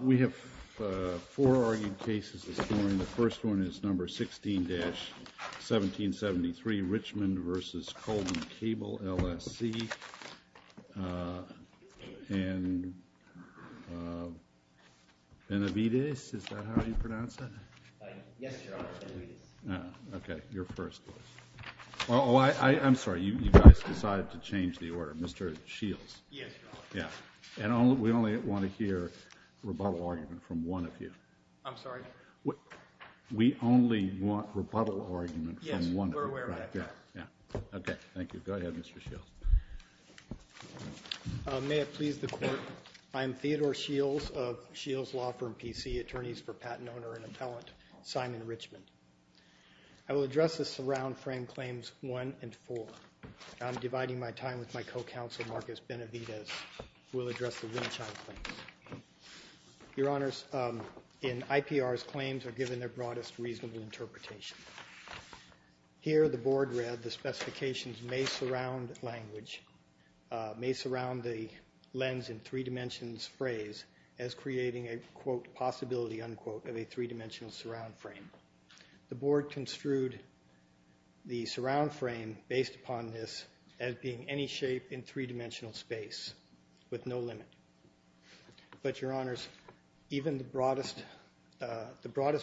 We have four argued cases this morning. The first one is number 16-1773, Richmond v. Coleman Cable, LSC, in Benavidez? Is that how you pronounce it? Yes, Your Honor, Benavidez. Okay, you're first. Oh, I'm sorry, you guys decided to change the order. Mr. Shields. Yes, Your Honor. And we only want to hear rebuttal argument from one of you. I'm sorry? We only want rebuttal argument from one of you. Yes, we're aware of that. Okay, thank you. Go ahead, Mr. Shields. May it please the Court, I am Theodore Shields of Shields Law Firm, P.C., attorneys for patent owner and appellant, Simon Richmond. I will address the surround frame claims 1 and 4. I'm dividing my time with my co-counsel, Marcus Benavidez, who will address the Winshine claims. Your Honors, in IPR's claims are given their broadest reasonable interpretation. Here the board read the specifications may surround language, may surround the lens in three dimensions phrase as creating a, quote, possibility, unquote, of a three dimensional surround frame. The board construed the surround frame based upon this as being any shape in three dimensional space with no limit. But, Your Honors, even the broadest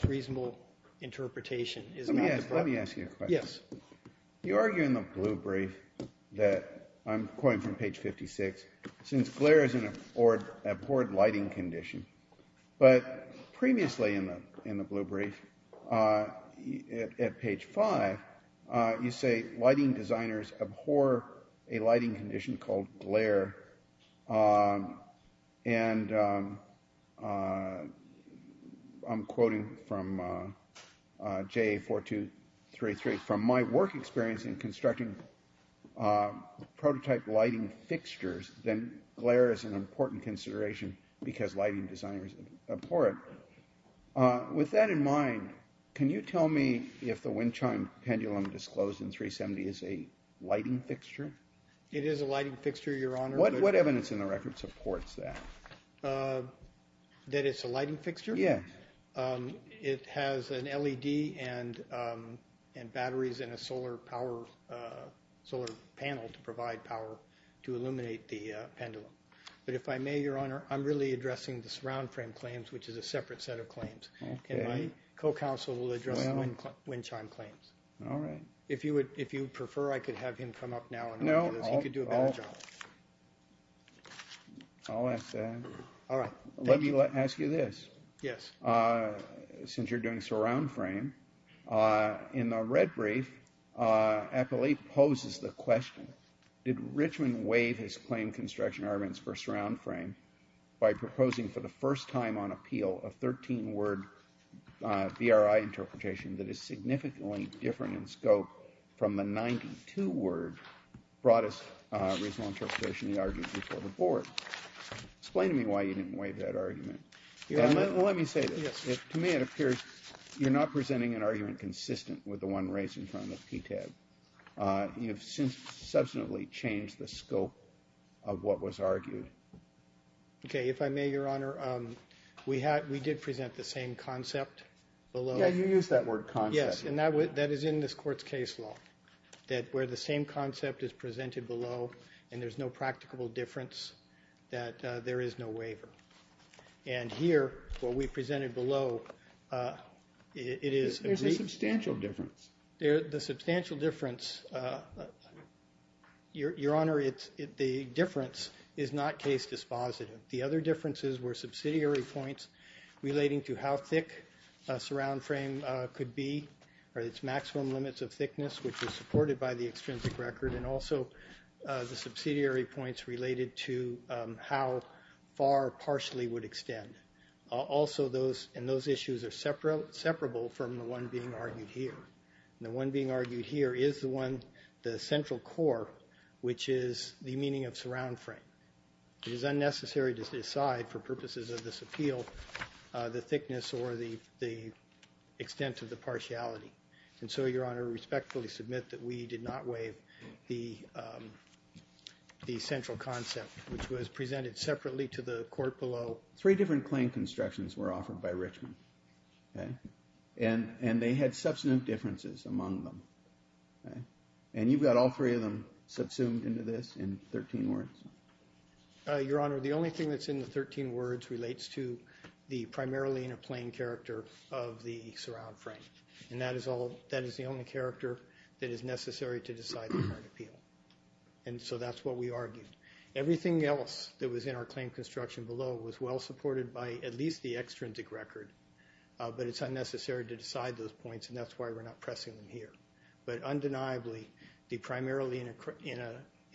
reasonable interpretation is not the broadest reasonable interpretation. Let me ask you a question. Yes. You argue in the blue brief that, I'm quoting from page 56, since glare is an abhorred lighting condition. But, previously in the blue brief, at page 5, you say lighting designers abhor a lighting condition called glare. And, I'm quoting from JA 4233, from my work experience in constructing prototype lighting fixtures, then glare is an important consideration because lighting designers abhor it. With that in mind, can you tell me if the Winshine pendulum disclosed in 370 is a lighting fixture? It is a lighting fixture, Your Honor. What evidence in the record supports that? That it's a lighting fixture? Yes. It has an LED and batteries and a solar panel to provide power to illuminate the pendulum. But, if I may, Your Honor, I'm really addressing the surround frame claims, which is a separate set of claims. Can my co-counsel address the Winshine claims? All right. If you would prefer, I could have him come up now and he could do a better job. No, I'll ask that. All right. Let me ask you this. Yes. Since you're doing surround frame, in the red brief, Appali poses the question, did Richmond waive his claim construction arguments for surround frame by proposing for the first time on appeal a 13-word VRI interpretation that is significantly different in scope from the 92-word broadest reasonable interpretation he argued before the board? Explain to me why you didn't waive that argument. Let me say this. Yes. To me, it appears you're not presenting an argument consistent with the one raised in front of the PTAB. You've substantially changed the scope of what was argued. Okay. If I may, Your Honor, we did present the same concept below. Yeah, you used that word concept. Yes. And that is in this court's case law, that where the same concept is presented below and there's no practicable difference, that there is no waiver. And here, what we presented below, it is agreed. There's a substantial difference. The substantial difference, Your Honor, the difference is not case dispositive. The other differences were subsidiary points relating to how thick a surround frame could be or its maximum limits of thickness, which is supported by the extrinsic record, and also the subsidiary points related to how far partially would extend. And those issues are separable from the one being argued here. And the one being argued here is the central core, which is the meaning of surround frame. It is unnecessary to decide, for purposes of this appeal, the thickness or the extent of the partiality. And so, Your Honor, we respectfully submit that we did not waive the central concept, which was presented separately to the court below. Three different claim constructions were offered by Richmond. And they had substantive differences among them. And you've got all three of them subsumed into this in 13 words. Your Honor, the only thing that's in the 13 words relates to the primarily in a plain character of the surround frame. And that is the only character that is necessary to decide the court appeal. And so that's what we argued. Everything else that was in our claim construction below was well supported by at least the extrinsic record, but it's unnecessary to decide those points, and that's why we're not pressing them here. But undeniably, the primarily in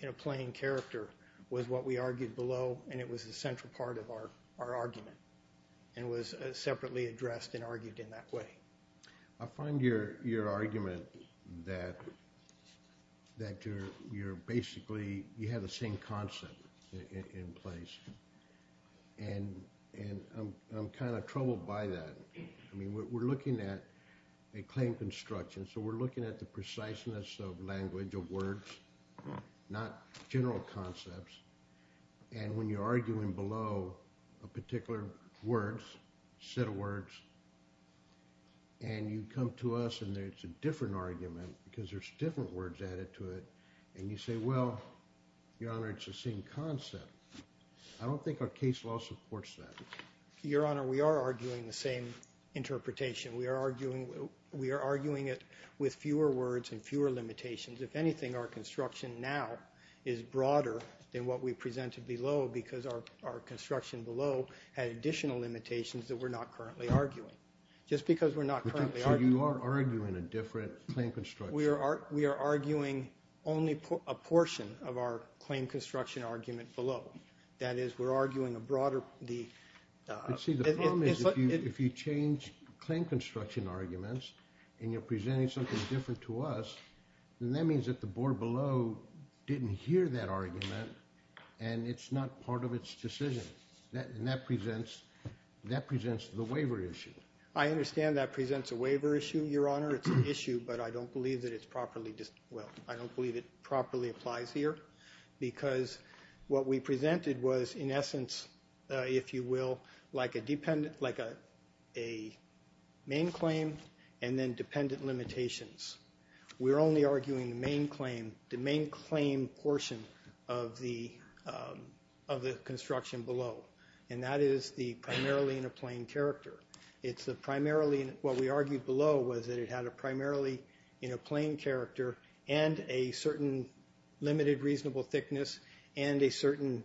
a plain character was what we argued below, and it was the central part of our argument and was separately addressed and argued in that way. I find your argument that you're basically—you have the same concept in place, and I'm kind of troubled by that. I mean, we're looking at a claim construction, so we're looking at the preciseness of language, of words, not general concepts. And when you're arguing below a particular words, set of words, and you come to us and there's a different argument because there's different words added to it, and you say, well, Your Honor, it's the same concept. I don't think our case law supports that. Your Honor, we are arguing the same interpretation. We are arguing it with fewer words and fewer limitations. If anything, our construction now is broader than what we presented below because our construction below had additional limitations that we're not currently arguing. Just because we're not currently arguing— So you are arguing a different claim construction. We are arguing only a portion of our claim construction argument below. That is, we're arguing a broader— See, the problem is if you change claim construction arguments and you're presenting something different to us, then that means that the board below didn't hear that argument, and it's not part of its decision, and that presents the waiver issue. I understand that presents a waiver issue, Your Honor. It's an issue, but I don't believe that it's properly—well, I don't believe it properly applies here because what we presented was, in essence, if you will, like a main claim and then dependent limitations. We're only arguing the main claim, the main claim portion of the construction below, and that is the primarily in a plain character. It's the primarily—what we argued below was that it had a primarily in a plain character and a certain limited reasonable thickness and a certain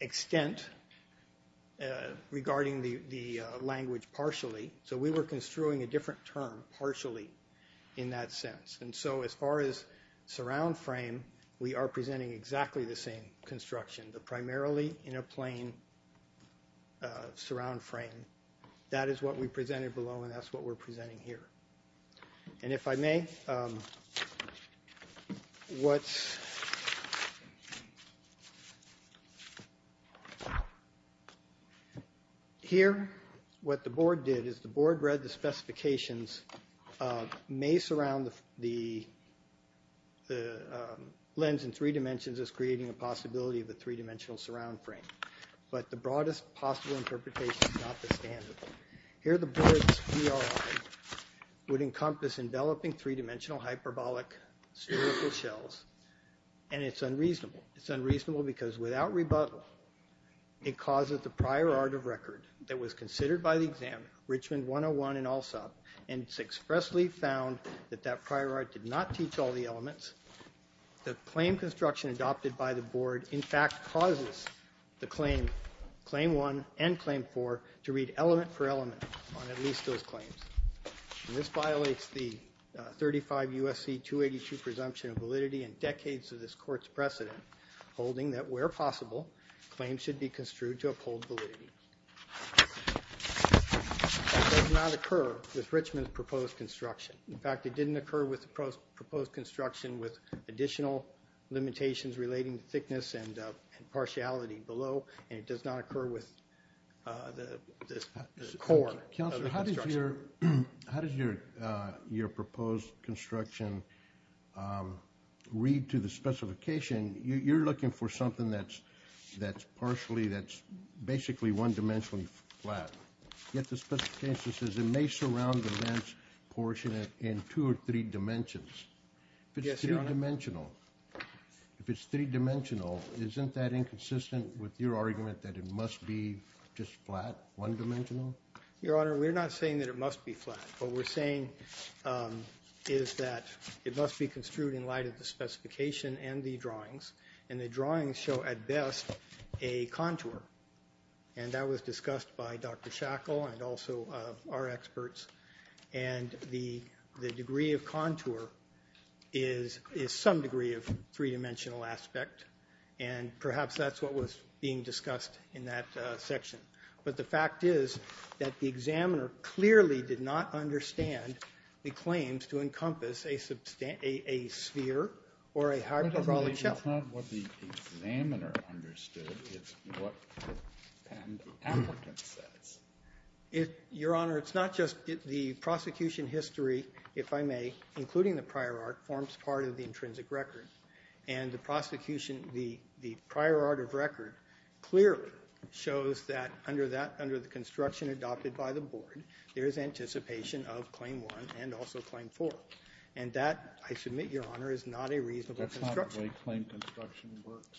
extent regarding the language partially. So we were construing a different term, partially, in that sense. And so as far as surround frame, we are presenting exactly the same construction, the primarily in a plain surround frame. That is what we presented below, and that's what we're presenting here. And if I may, what's—here, what the board did is the board read the specifications may surround the lens in three dimensions as creating a possibility of a three-dimensional surround frame, but the broadest possible interpretation is not the standard. Here, the board's ERI would encompass enveloping three-dimensional hyperbolic spherical shells, and it's unreasonable. It's unreasonable because without rebuttal, it causes the prior art of record that was considered by the exam, Richmond 101 and ALSOP, and it's expressly found that that prior art did not teach all the elements. The claim construction adopted by the board, in fact, causes the claim, Claim 1 and Claim 4, to read element for element on at least those claims. And this violates the 35 U.S.C. 282 presumption of validity and decades of this court's precedent, holding that where possible, claims should be construed to uphold validity. That does not occur with Richmond's proposed construction. In fact, it didn't occur with the proposed construction with additional limitations relating to thickness and partiality below, and it does not occur with the core of the construction. Counselor, how does your proposed construction read to the specification? You're looking for something that's partially, that's basically one-dimensionally flat, yet the specification says it may surround the lens portion in two or three dimensions. If it's three-dimensional, isn't that inconsistent with your argument that it must be just flat, one-dimensional? Your Honor, we're not saying that it must be flat. What we're saying is that it must be construed in light of the specification and the drawings, and the drawings show at best a contour. And that was discussed by Dr. Shackle and also our experts. And the degree of contour is some degree of three-dimensional aspect, and perhaps that's what was being discussed in that section. But the fact is that the examiner clearly did not understand the claims to encompass a sphere or a hyperbolic shell. That's not what the examiner understood. It's what the applicant says. Your Honor, it's not just the prosecution history, if I may, including the prior art, forms part of the intrinsic record. And the prosecution, the prior art of record clearly shows that under the construction adopted by the board, there is anticipation of Claim 1 and also Claim 4. And that, I submit, Your Honor, is not a reasonable construction. That's not the way claim construction works.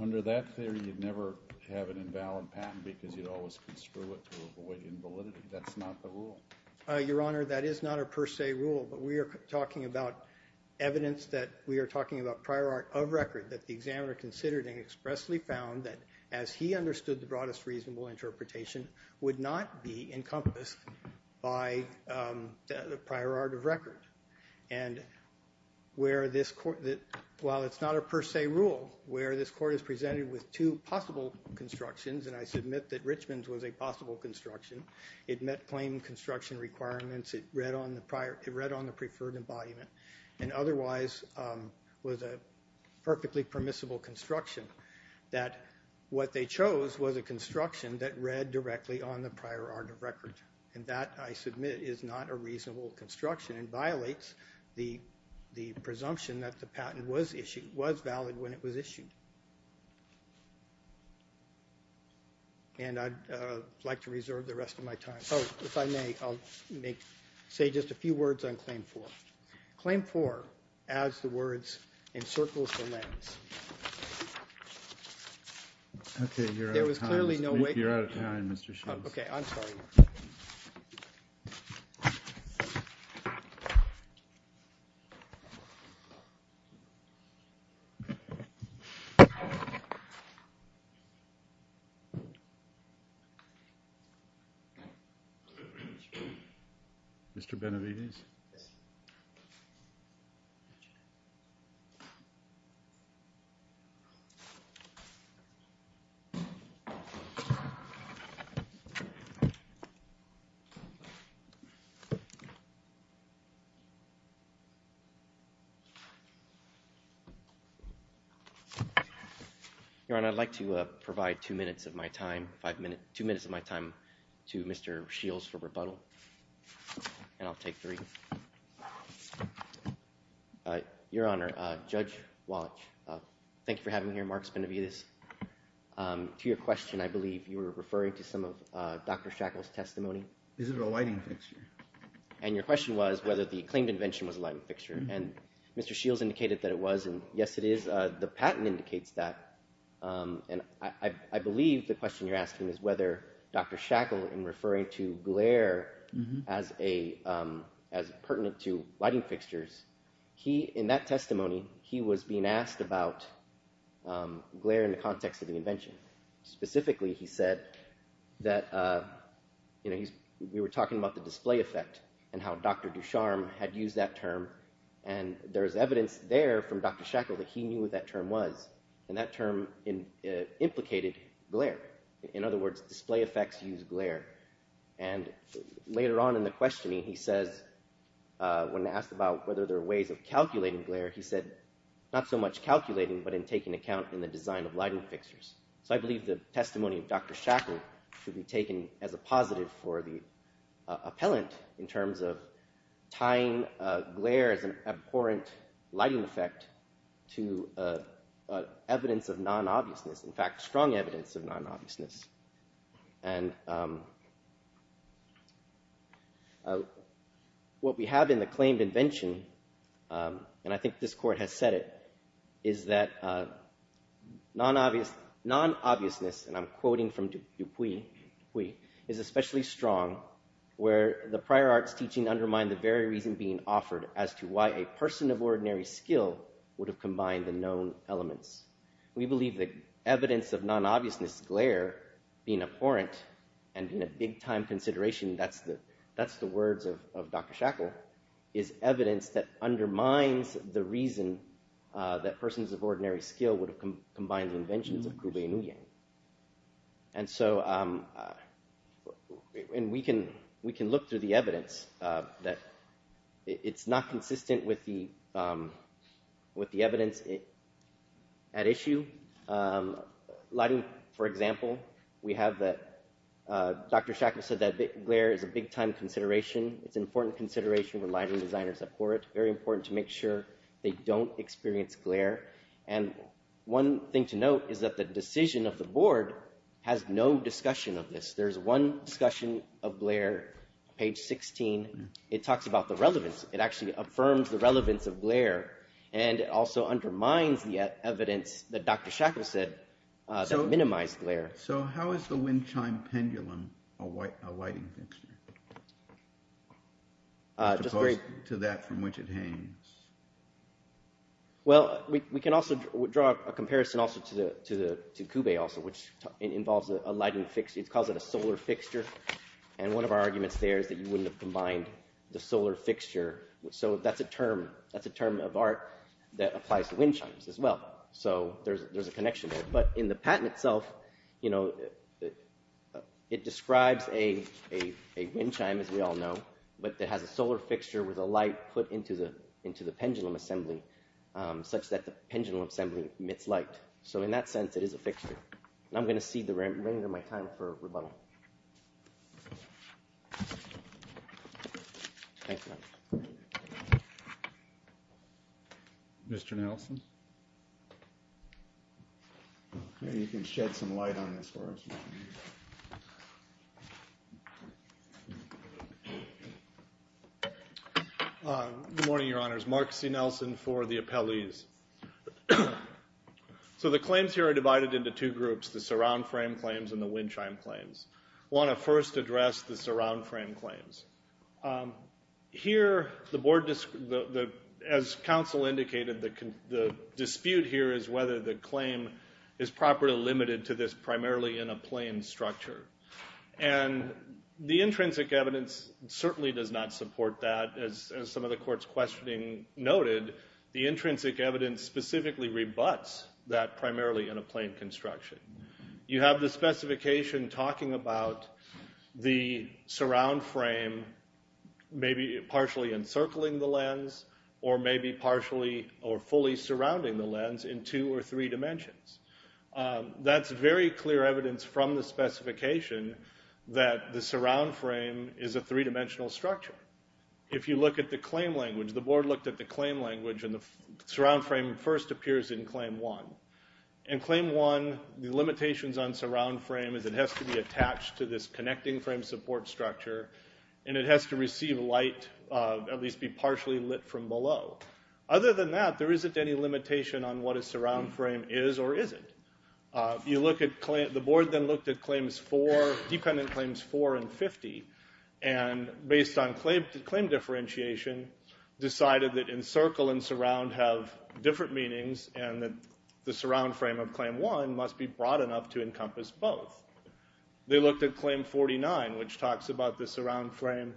Under that theory, you'd never have an invalid patent because you'd always construe it to avoid invalidity. That's not the rule. Your Honor, that is not a per se rule. But we are talking about evidence that we are talking about prior art of record that the examiner considered and expressly found that, as he understood the broadest reasonable interpretation, would not be encompassed by the prior art of record. And while it's not a per se rule, where this court is presented with two possible constructions, and I submit that Richmond's was a possible construction, it met claim construction requirements. It read on the preferred embodiment and otherwise was a perfectly permissible construction, that what they chose was a construction that read directly on the prior art of record. And that, I submit, is not a reasonable construction and violates the presumption that the patent was issued, was valid when it was issued. And I'd like to reserve the rest of my time. Oh, if I may, I'll say just a few words on Claim 4. Claim 4 adds the words, encircles the lens. Okay, you're out of time. There was clearly no way. You're out of time, Mr. Schultz. Okay, I'm sorry. Mr. Benavides? Yes. Your Honor, I'd like to provide two minutes of my time to Mr. Schultz for rebuttal, and I'll take three. Your Honor, Judge Walsh, thank you for having me here. Marks Benavides. To your question, I believe you were referring to some of Dr. Shackle's testimony. Is it a lighting fixture? And your question was whether the claimed invention was a lighting fixture, and Mr. Schultz indicated that it was, and yes, it is. The patent indicates that. I believe the question you're asking is whether Dr. Shackle, in referring to glare as pertinent to lighting fixtures, in that testimony, he was being asked about glare in the context of the invention. Specifically, he said that we were talking about the display effect and how Dr. Ducharme had used that term, and there's evidence there from Dr. Shackle that he knew what that term was. And that term implicated glare. In other words, display effects use glare. And later on in the questioning, he says, when asked about whether there are ways of calculating glare, he said not so much calculating but in taking account in the design of lighting fixtures. So I believe the testimony of Dr. Shackle should be taken as a positive for the appellant in terms of tying glare as an abhorrent lighting effect to evidence of non-obviousness, in fact, strong evidence of non-obviousness. And what we have in the claimed invention, and I think this court has said it, is that non-obviousness, and I'm quoting from Dupuis, is especially strong where the prior arts teaching undermined the very reason being offered as to why a person of ordinary skill would have combined the known elements. We believe that evidence of non-obviousness glare being abhorrent and in a big-time consideration, that's the words of Dr. Shackle, is evidence that undermines the reason that persons of ordinary skill would have combined the inventions of Kubey Nguyen. And so we can look through the evidence. It's not consistent with the evidence at issue. Lighting, for example, Dr. Shackle said that glare is a big-time consideration. It's an important consideration when lighting designers are at court. Very important to make sure they don't experience glare. And one thing to note is that the decision of the board has no discussion of this. There is one discussion of glare, page 16. It talks about the relevance. It actually affirms the relevance of glare and it also undermines the evidence that Dr. Shackle said that minimized glare. So how is the wind chime pendulum a lighting fixture? As opposed to that from which it hangs. Well, we can also draw a comparison also to Kubey also, which involves a lighting fixture. It calls it a solar fixture. And one of our arguments there is that you wouldn't have combined the solar fixture. So that's a term of art that applies to wind chimes as well. So there's a connection there. But in the patent itself, it describes a wind chime, as we all know, but that has a solar fixture with a light put into the pendulum assembly such that the pendulum assembly emits light. So in that sense, it is a fixture. And I'm going to cede the remainder of my time for rebuttal. Mr. Nelson? Maybe you can shed some light on this for us. Good morning, Your Honors. Mark C. Nelson for the appellees. So the claims here are divided into two groups, the surround frame claims and the wind chime claims. I want to first address the surround frame claims. Here, as counsel indicated, the dispute here is whether the claim is properly limited to this primarily in a plane structure. And the intrinsic evidence certainly does not support that. As some of the court's questioning noted, the intrinsic evidence specifically rebuts that primarily in a plane construction. You have the specification talking about the surround frame maybe partially encircling the lens or maybe partially or fully surrounding the lens in two or three dimensions. That's very clear evidence from the specification that the surround frame is a three-dimensional structure. If you look at the claim language, the Board looked at the claim language, and the surround frame first appears in Claim 1. In Claim 1, the limitations on surround frame is it has to be attached to this connecting frame support structure, and it has to receive light, at least be partially lit from below. Other than that, there isn't any limitation on what a surround frame is or isn't. The Board then looked at Dependent Claims 4 and 50, and based on claim differentiation, decided that encircle and surround have different meanings and that the surround frame of Claim 1 must be broad enough to encompass both. They looked at Claim 49, which talks about the surround frame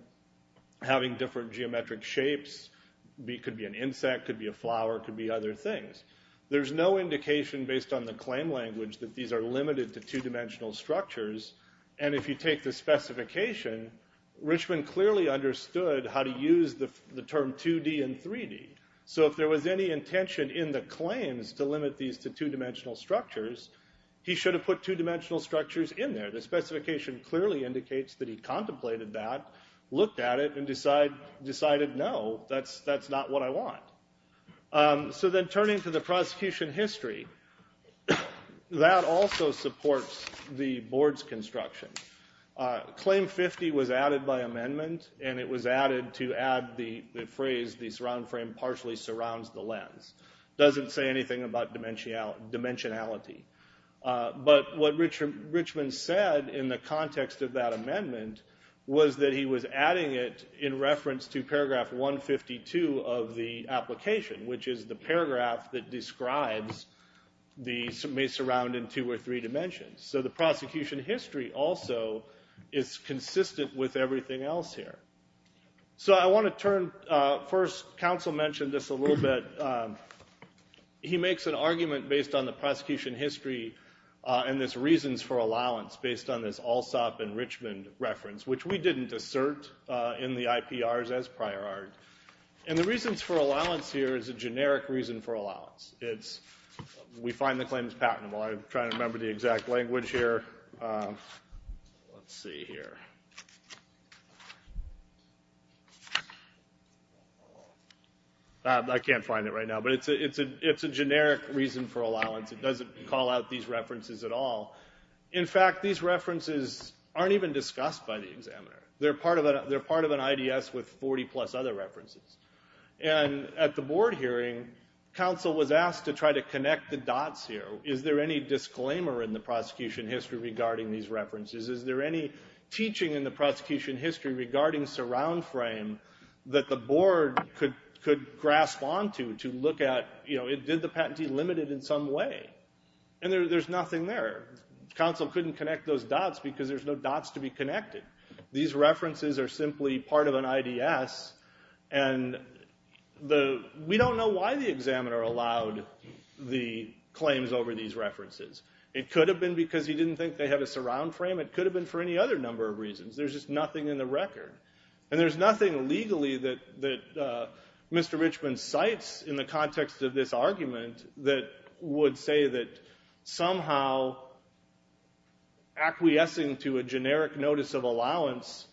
having different geometric shapes. It could be an insect, it could be a flower, it could be other things. There's no indication based on the claim language that these are limited to two-dimensional structures, and if you take the specification, Richman clearly understood how to use the term 2D and 3D. So if there was any intention in the claims to limit these to two-dimensional structures, he should have put two-dimensional structures in there. The specification clearly indicates that he contemplated that, looked at it, and decided, no, that's not what I want. So then turning to the prosecution history, that also supports the Board's construction. Claim 50 was added by amendment, and it was added to add the phrase, the surround frame partially surrounds the lens. It doesn't say anything about dimensionality. But what Richman said in the context of that amendment was that he was adding it in reference to paragraph 152 of the application, which is the paragraph that describes the surrounding two or three dimensions. So the prosecution history also is consistent with everything else here. So I want to turn... First, counsel mentioned this a little bit. He makes an argument based on the prosecution history and this reasons for allowance based on this Alsop and Richman reference, which we didn't assert in the IPRs as prior art. And the reasons for allowance here is a generic reason for allowance. We find the claims patentable. I'm trying to remember the exact language here. Let's see here. I can't find it right now. But it's a generic reason for allowance. It doesn't call out these references at all. In fact, these references aren't even discussed by the examiner. They're part of an IDS with 40-plus other references. And at the board hearing, counsel was asked to try to connect the dots here. Is there any disclaimer in the prosecution history regarding these references? Is there any teaching in the prosecution history regarding surround frame that the board could grasp onto to look at, you know, did the patentee limit it in some way? And there's nothing there. Counsel couldn't connect those dots because there's no dots to be connected. These references are simply part of an IDS. And we don't know why the examiner allowed the claims over these references. It could have been because he didn't think they had a surround frame. It could have been for any other number of reasons. There's just nothing in the record. And there's nothing legally that Mr. Richman cites in the context of this argument that would say that somehow acquiescing to a generic notice of allowance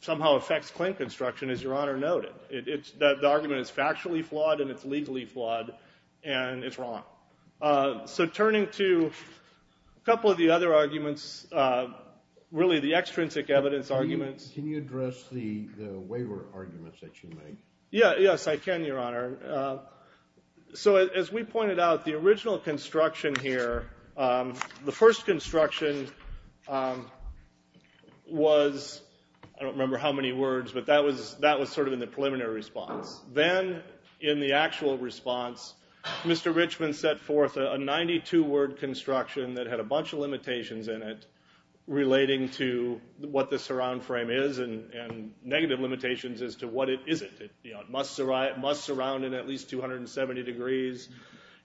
somehow affects claim construction, as Your Honor noted. The argument is factually flawed, and it's legally flawed, and it's wrong. So turning to a couple of the other arguments, really the extrinsic evidence arguments. Can you address the waiver arguments that you made? Yes, I can, Your Honor. So as we pointed out, the original construction here, the first construction was, I don't remember how many words, but that was sort of in the preliminary response. Then in the actual response, Mr. Richman set forth a 92-word construction that had a bunch of limitations in it relating to what the surround frame is and negative limitations as to what it isn't. It must surround in at least 270 degrees.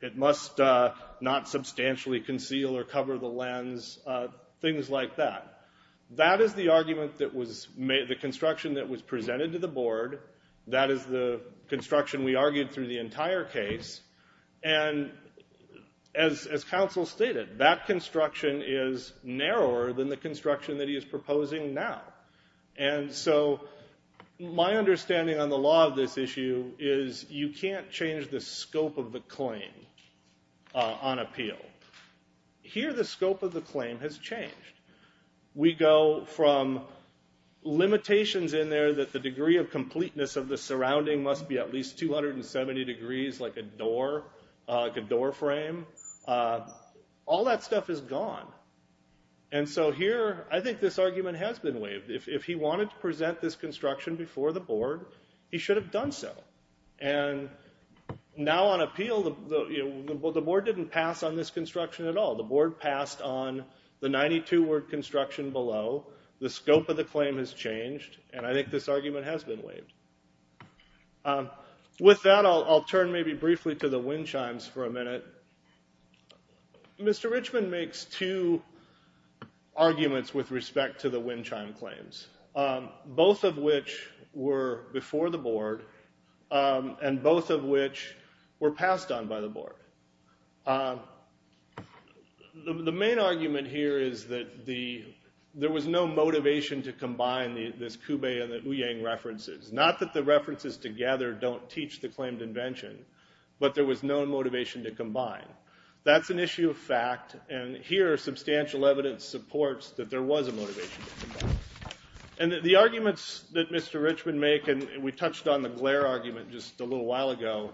It must not substantially conceal or cover the lens, things like that. That is the argument that was made, the construction that was presented to the board. That is the construction we argued through the entire case. And as counsel stated, that construction is narrower than the construction that he is proposing now. So my understanding on the law of this issue is you can't change the scope of the claim on appeal. Here the scope of the claim has changed. We go from limitations in there that the degree of completeness of the surrounding must be at least 270 degrees, like a door frame. All that stuff is gone. I think this argument has been waived. If he wanted to present this construction before the board, he should have done so. Now on appeal, the board didn't pass on this construction at all. The board passed on the 92-word construction below. The scope of the claim has changed, and I think this argument has been waived. With that, I'll turn maybe briefly to the wind chimes for a minute. Mr. Richman makes two arguments with respect to the wind chime claims, both of which were before the board and both of which were passed on by the board. The main argument here is that there was no motivation to combine this Ku-Bay and the Ouyang references. Not that the references together don't teach the claimed invention, but there was no motivation to combine. That's an issue of fact, and here substantial evidence supports that there was a motivation to combine. The arguments that Mr. Richman makes, and we touched on the glare argument just a little while ago,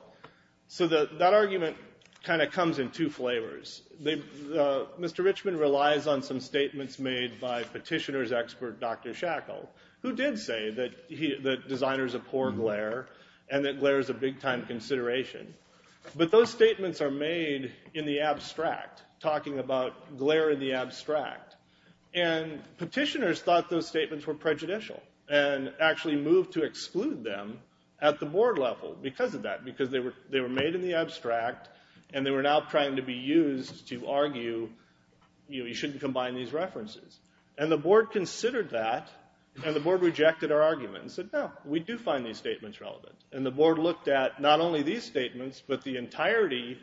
that argument kind of comes in two flavors. Mr. Richman relies on some statements made by petitioner's expert, Dr. Shackle, who did say that designers abhor glare and that glare is a big-time consideration. But those statements are made in the abstract, talking about glare in the abstract. And petitioners thought those statements were prejudicial and actually moved to exclude them at the board level because of that, because they were made in the abstract and they were now trying to be used to argue you shouldn't combine these references. And the board considered that, and the board rejected our argument and said, no, we do find these statements relevant. And the board looked at not only these statements, but the entirety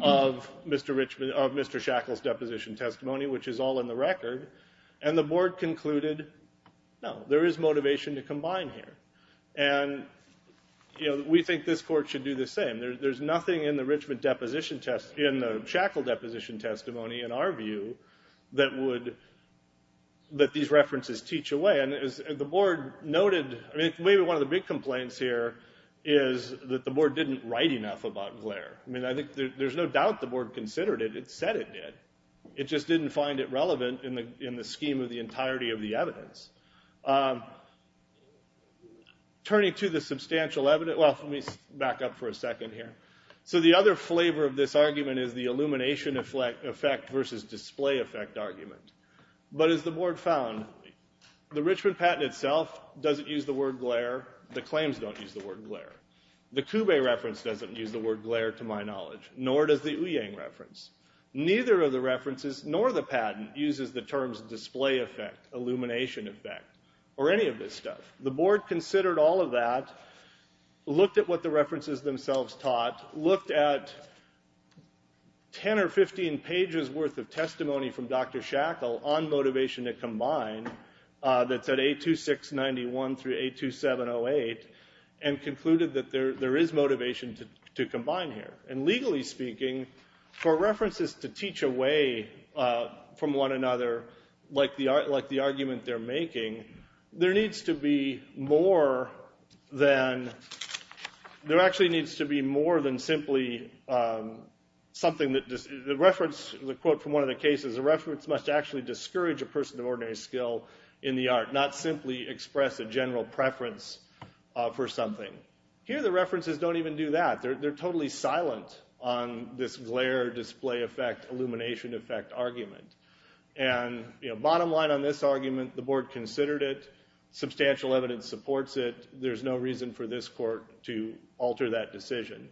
of Mr. Shackle's deposition testimony, which is all in the record, and the board concluded, no, there is motivation to combine here. And we think this court should do the same. There's nothing in the Shackle deposition testimony, in our view, that these references teach away. Again, as the board noted, maybe one of the big complaints here is that the board didn't write enough about glare. There's no doubt the board considered it. It said it did. It just didn't find it relevant in the scheme of the entirety of the evidence. Turning to the substantial evidence, well, let me back up for a second here. So the other flavor of this argument is the illumination effect versus display effect argument. But as the board found, the Richmond patent itself doesn't use the word glare. The claims don't use the word glare. The Kube reference doesn't use the word glare, to my knowledge. Nor does the Ouyang reference. Neither of the references, nor the patent, uses the terms display effect, illumination effect, or any of this stuff. The board considered all of that, looked at what the references themselves taught, looked at 10 or 15 pages worth of testimony from Dr. Shackle, on motivation to combine, that's at 826.91 through 827.08, and concluded that there is motivation to combine here. And legally speaking, for references to teach away from one another, like the argument they're making, there needs to be more than... There actually needs to be more than simply something that... The quote from one of the cases, a reference must actually discourage a person of ordinary skill in the art, not simply express a general preference for something. Here the references don't even do that. They're totally silent on this glare, display effect, illumination effect argument. And bottom line on this argument, the board considered it, substantial evidence supports it, there's no reason for this court to alter that decision.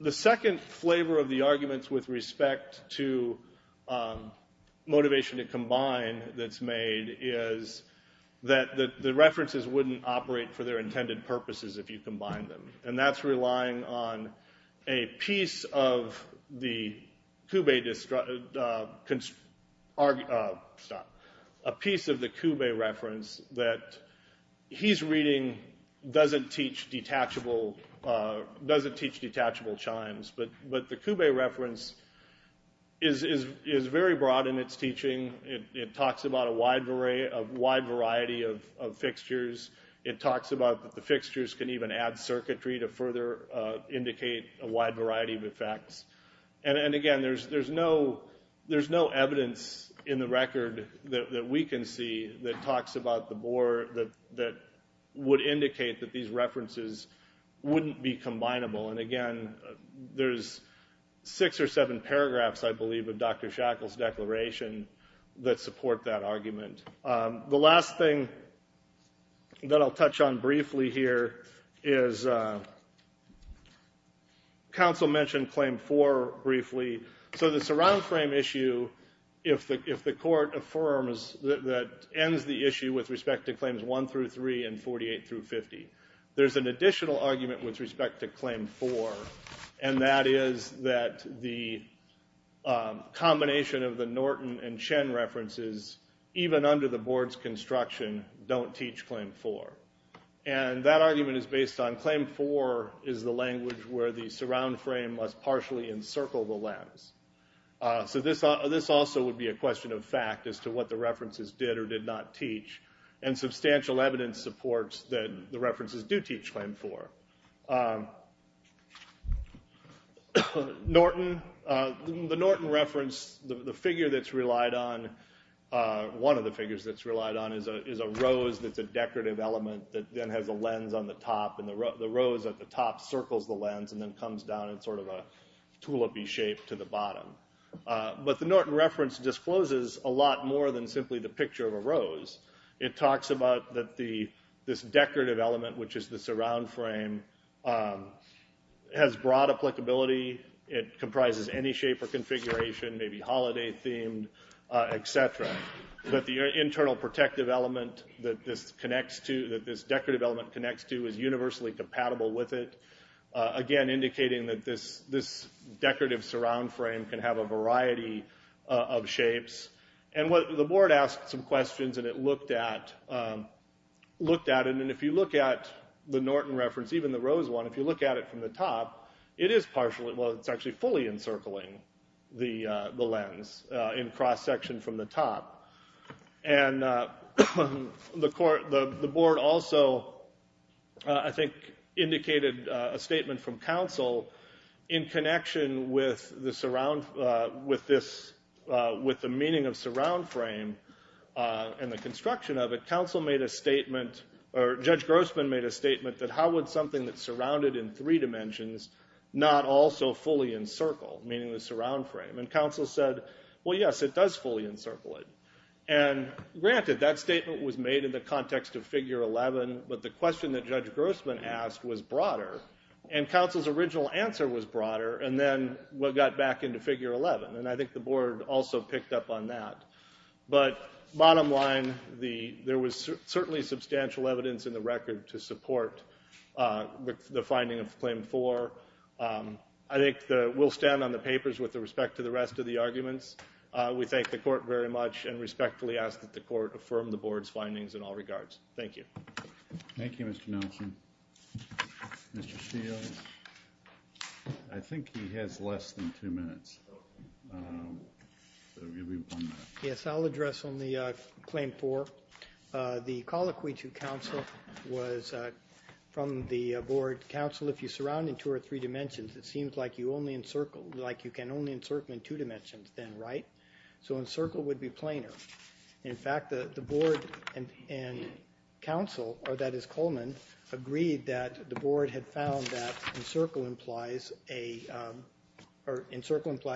The second flavor of the arguments with respect to motivation to combine that's made is that the references wouldn't operate for their intended purposes if you combine them. And that's relying on a piece of the Kube reference that he's reading doesn't teach detachable chimes. But the Kube reference is very broad in its teaching. It talks about a wide variety of fixtures. It talks about that the fixtures can even add circuitry to further indicate a wide variety of effects. And again, there's no evidence in the record that we can see that talks about the board that would indicate that these references wouldn't be combinable. And again, there's six or seven paragraphs, I believe, of Dr. Shackle's declaration that support that argument. The last thing that I'll touch on briefly here is counsel mentioned Claim 4 briefly. So the surround frame issue, if the court affirms that ends the issue with respect to Claims 1 through 3 and 48 through 50, there's an additional argument with respect to Claim 4, and that is that the combination of the Norton and Chen references, even under the board's construction, don't teach Claim 4. And that argument is based on Claim 4 is the language where the surround frame must partially encircle the lattice. So this also would be a question of fact as to what the references did or did not teach, and substantial evidence supports that the references do teach Claim 4. The Norton reference, the figure that's relied on, one of the figures that's relied on, is a rose that's a decorative element that then has a lens on the top, and the rose at the top circles the lens and then comes down in sort of a tulip-y shape to the bottom. But the Norton reference discloses a lot more than simply the picture of a rose. It talks about that this decorative element, which is the surround frame, has broad applicability. It comprises any shape or configuration, maybe holiday-themed, et cetera. But the internal protective element that this decorative element connects to is universally compatible with it. Again, indicating that this decorative surround frame can have a variety of shapes. And the board asked some questions, and it looked at it, and if you look at the Norton reference, even the rose one, if you look at it from the top, it is partially, well, it's actually fully encircling the lens in cross-section from the top. And the board also, I think, indicated a statement from counsel in connection with the meaning of surround frame and the construction of it. Counsel made a statement, or Judge Grossman made a statement, that how would something that's surrounded in three dimensions not also fully encircle, meaning the surround frame? And counsel said, well, yes, it does fully encircle it. And granted, that statement was made in the context of figure 11, but the question that Judge Grossman asked was broader, and counsel's original answer was broader, and then we got back into figure 11. And I think the board also picked up on that. But bottom line, there was certainly substantial evidence in the record to support the finding of claim four. I think we'll stand on the papers with respect to the rest of the arguments. We thank the court very much and respectfully ask that the court affirm the board's findings in all regards. Thank you. Thank you, Mr. Nelson. Mr. Steele? I think he has less than two minutes. Yes, I'll address on the claim four. The call to counsel was from the board counsel. They said, well, if you surround in two or three dimensions, it seems like you can only encircle in two dimensions then, right? So encircle would be planar. In fact, the board and counsel, or that is Coleman, agreed that the board had found that encircle implies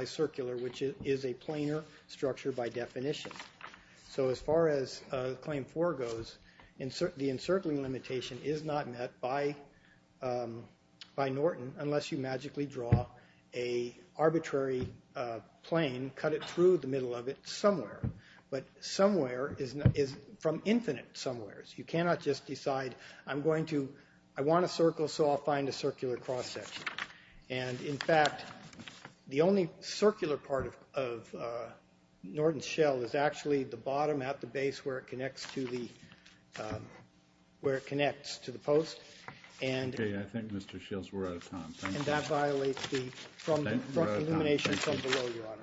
circular, which is a planar structure by definition. So as far as claim four goes, the encircling limitation is not met by Norton unless you magically draw an arbitrary plane, cut it through the middle of it somewhere. But somewhere is from infinite somewheres. You cannot just decide I want a circle, so I'll find a circular cross section. In fact, the only circular part of Norton's shell is actually the bottom at the base where it connects to the post. Okay, I think, Mr. Shills, we're out of time. And that violates the illumination from below, Your Honor.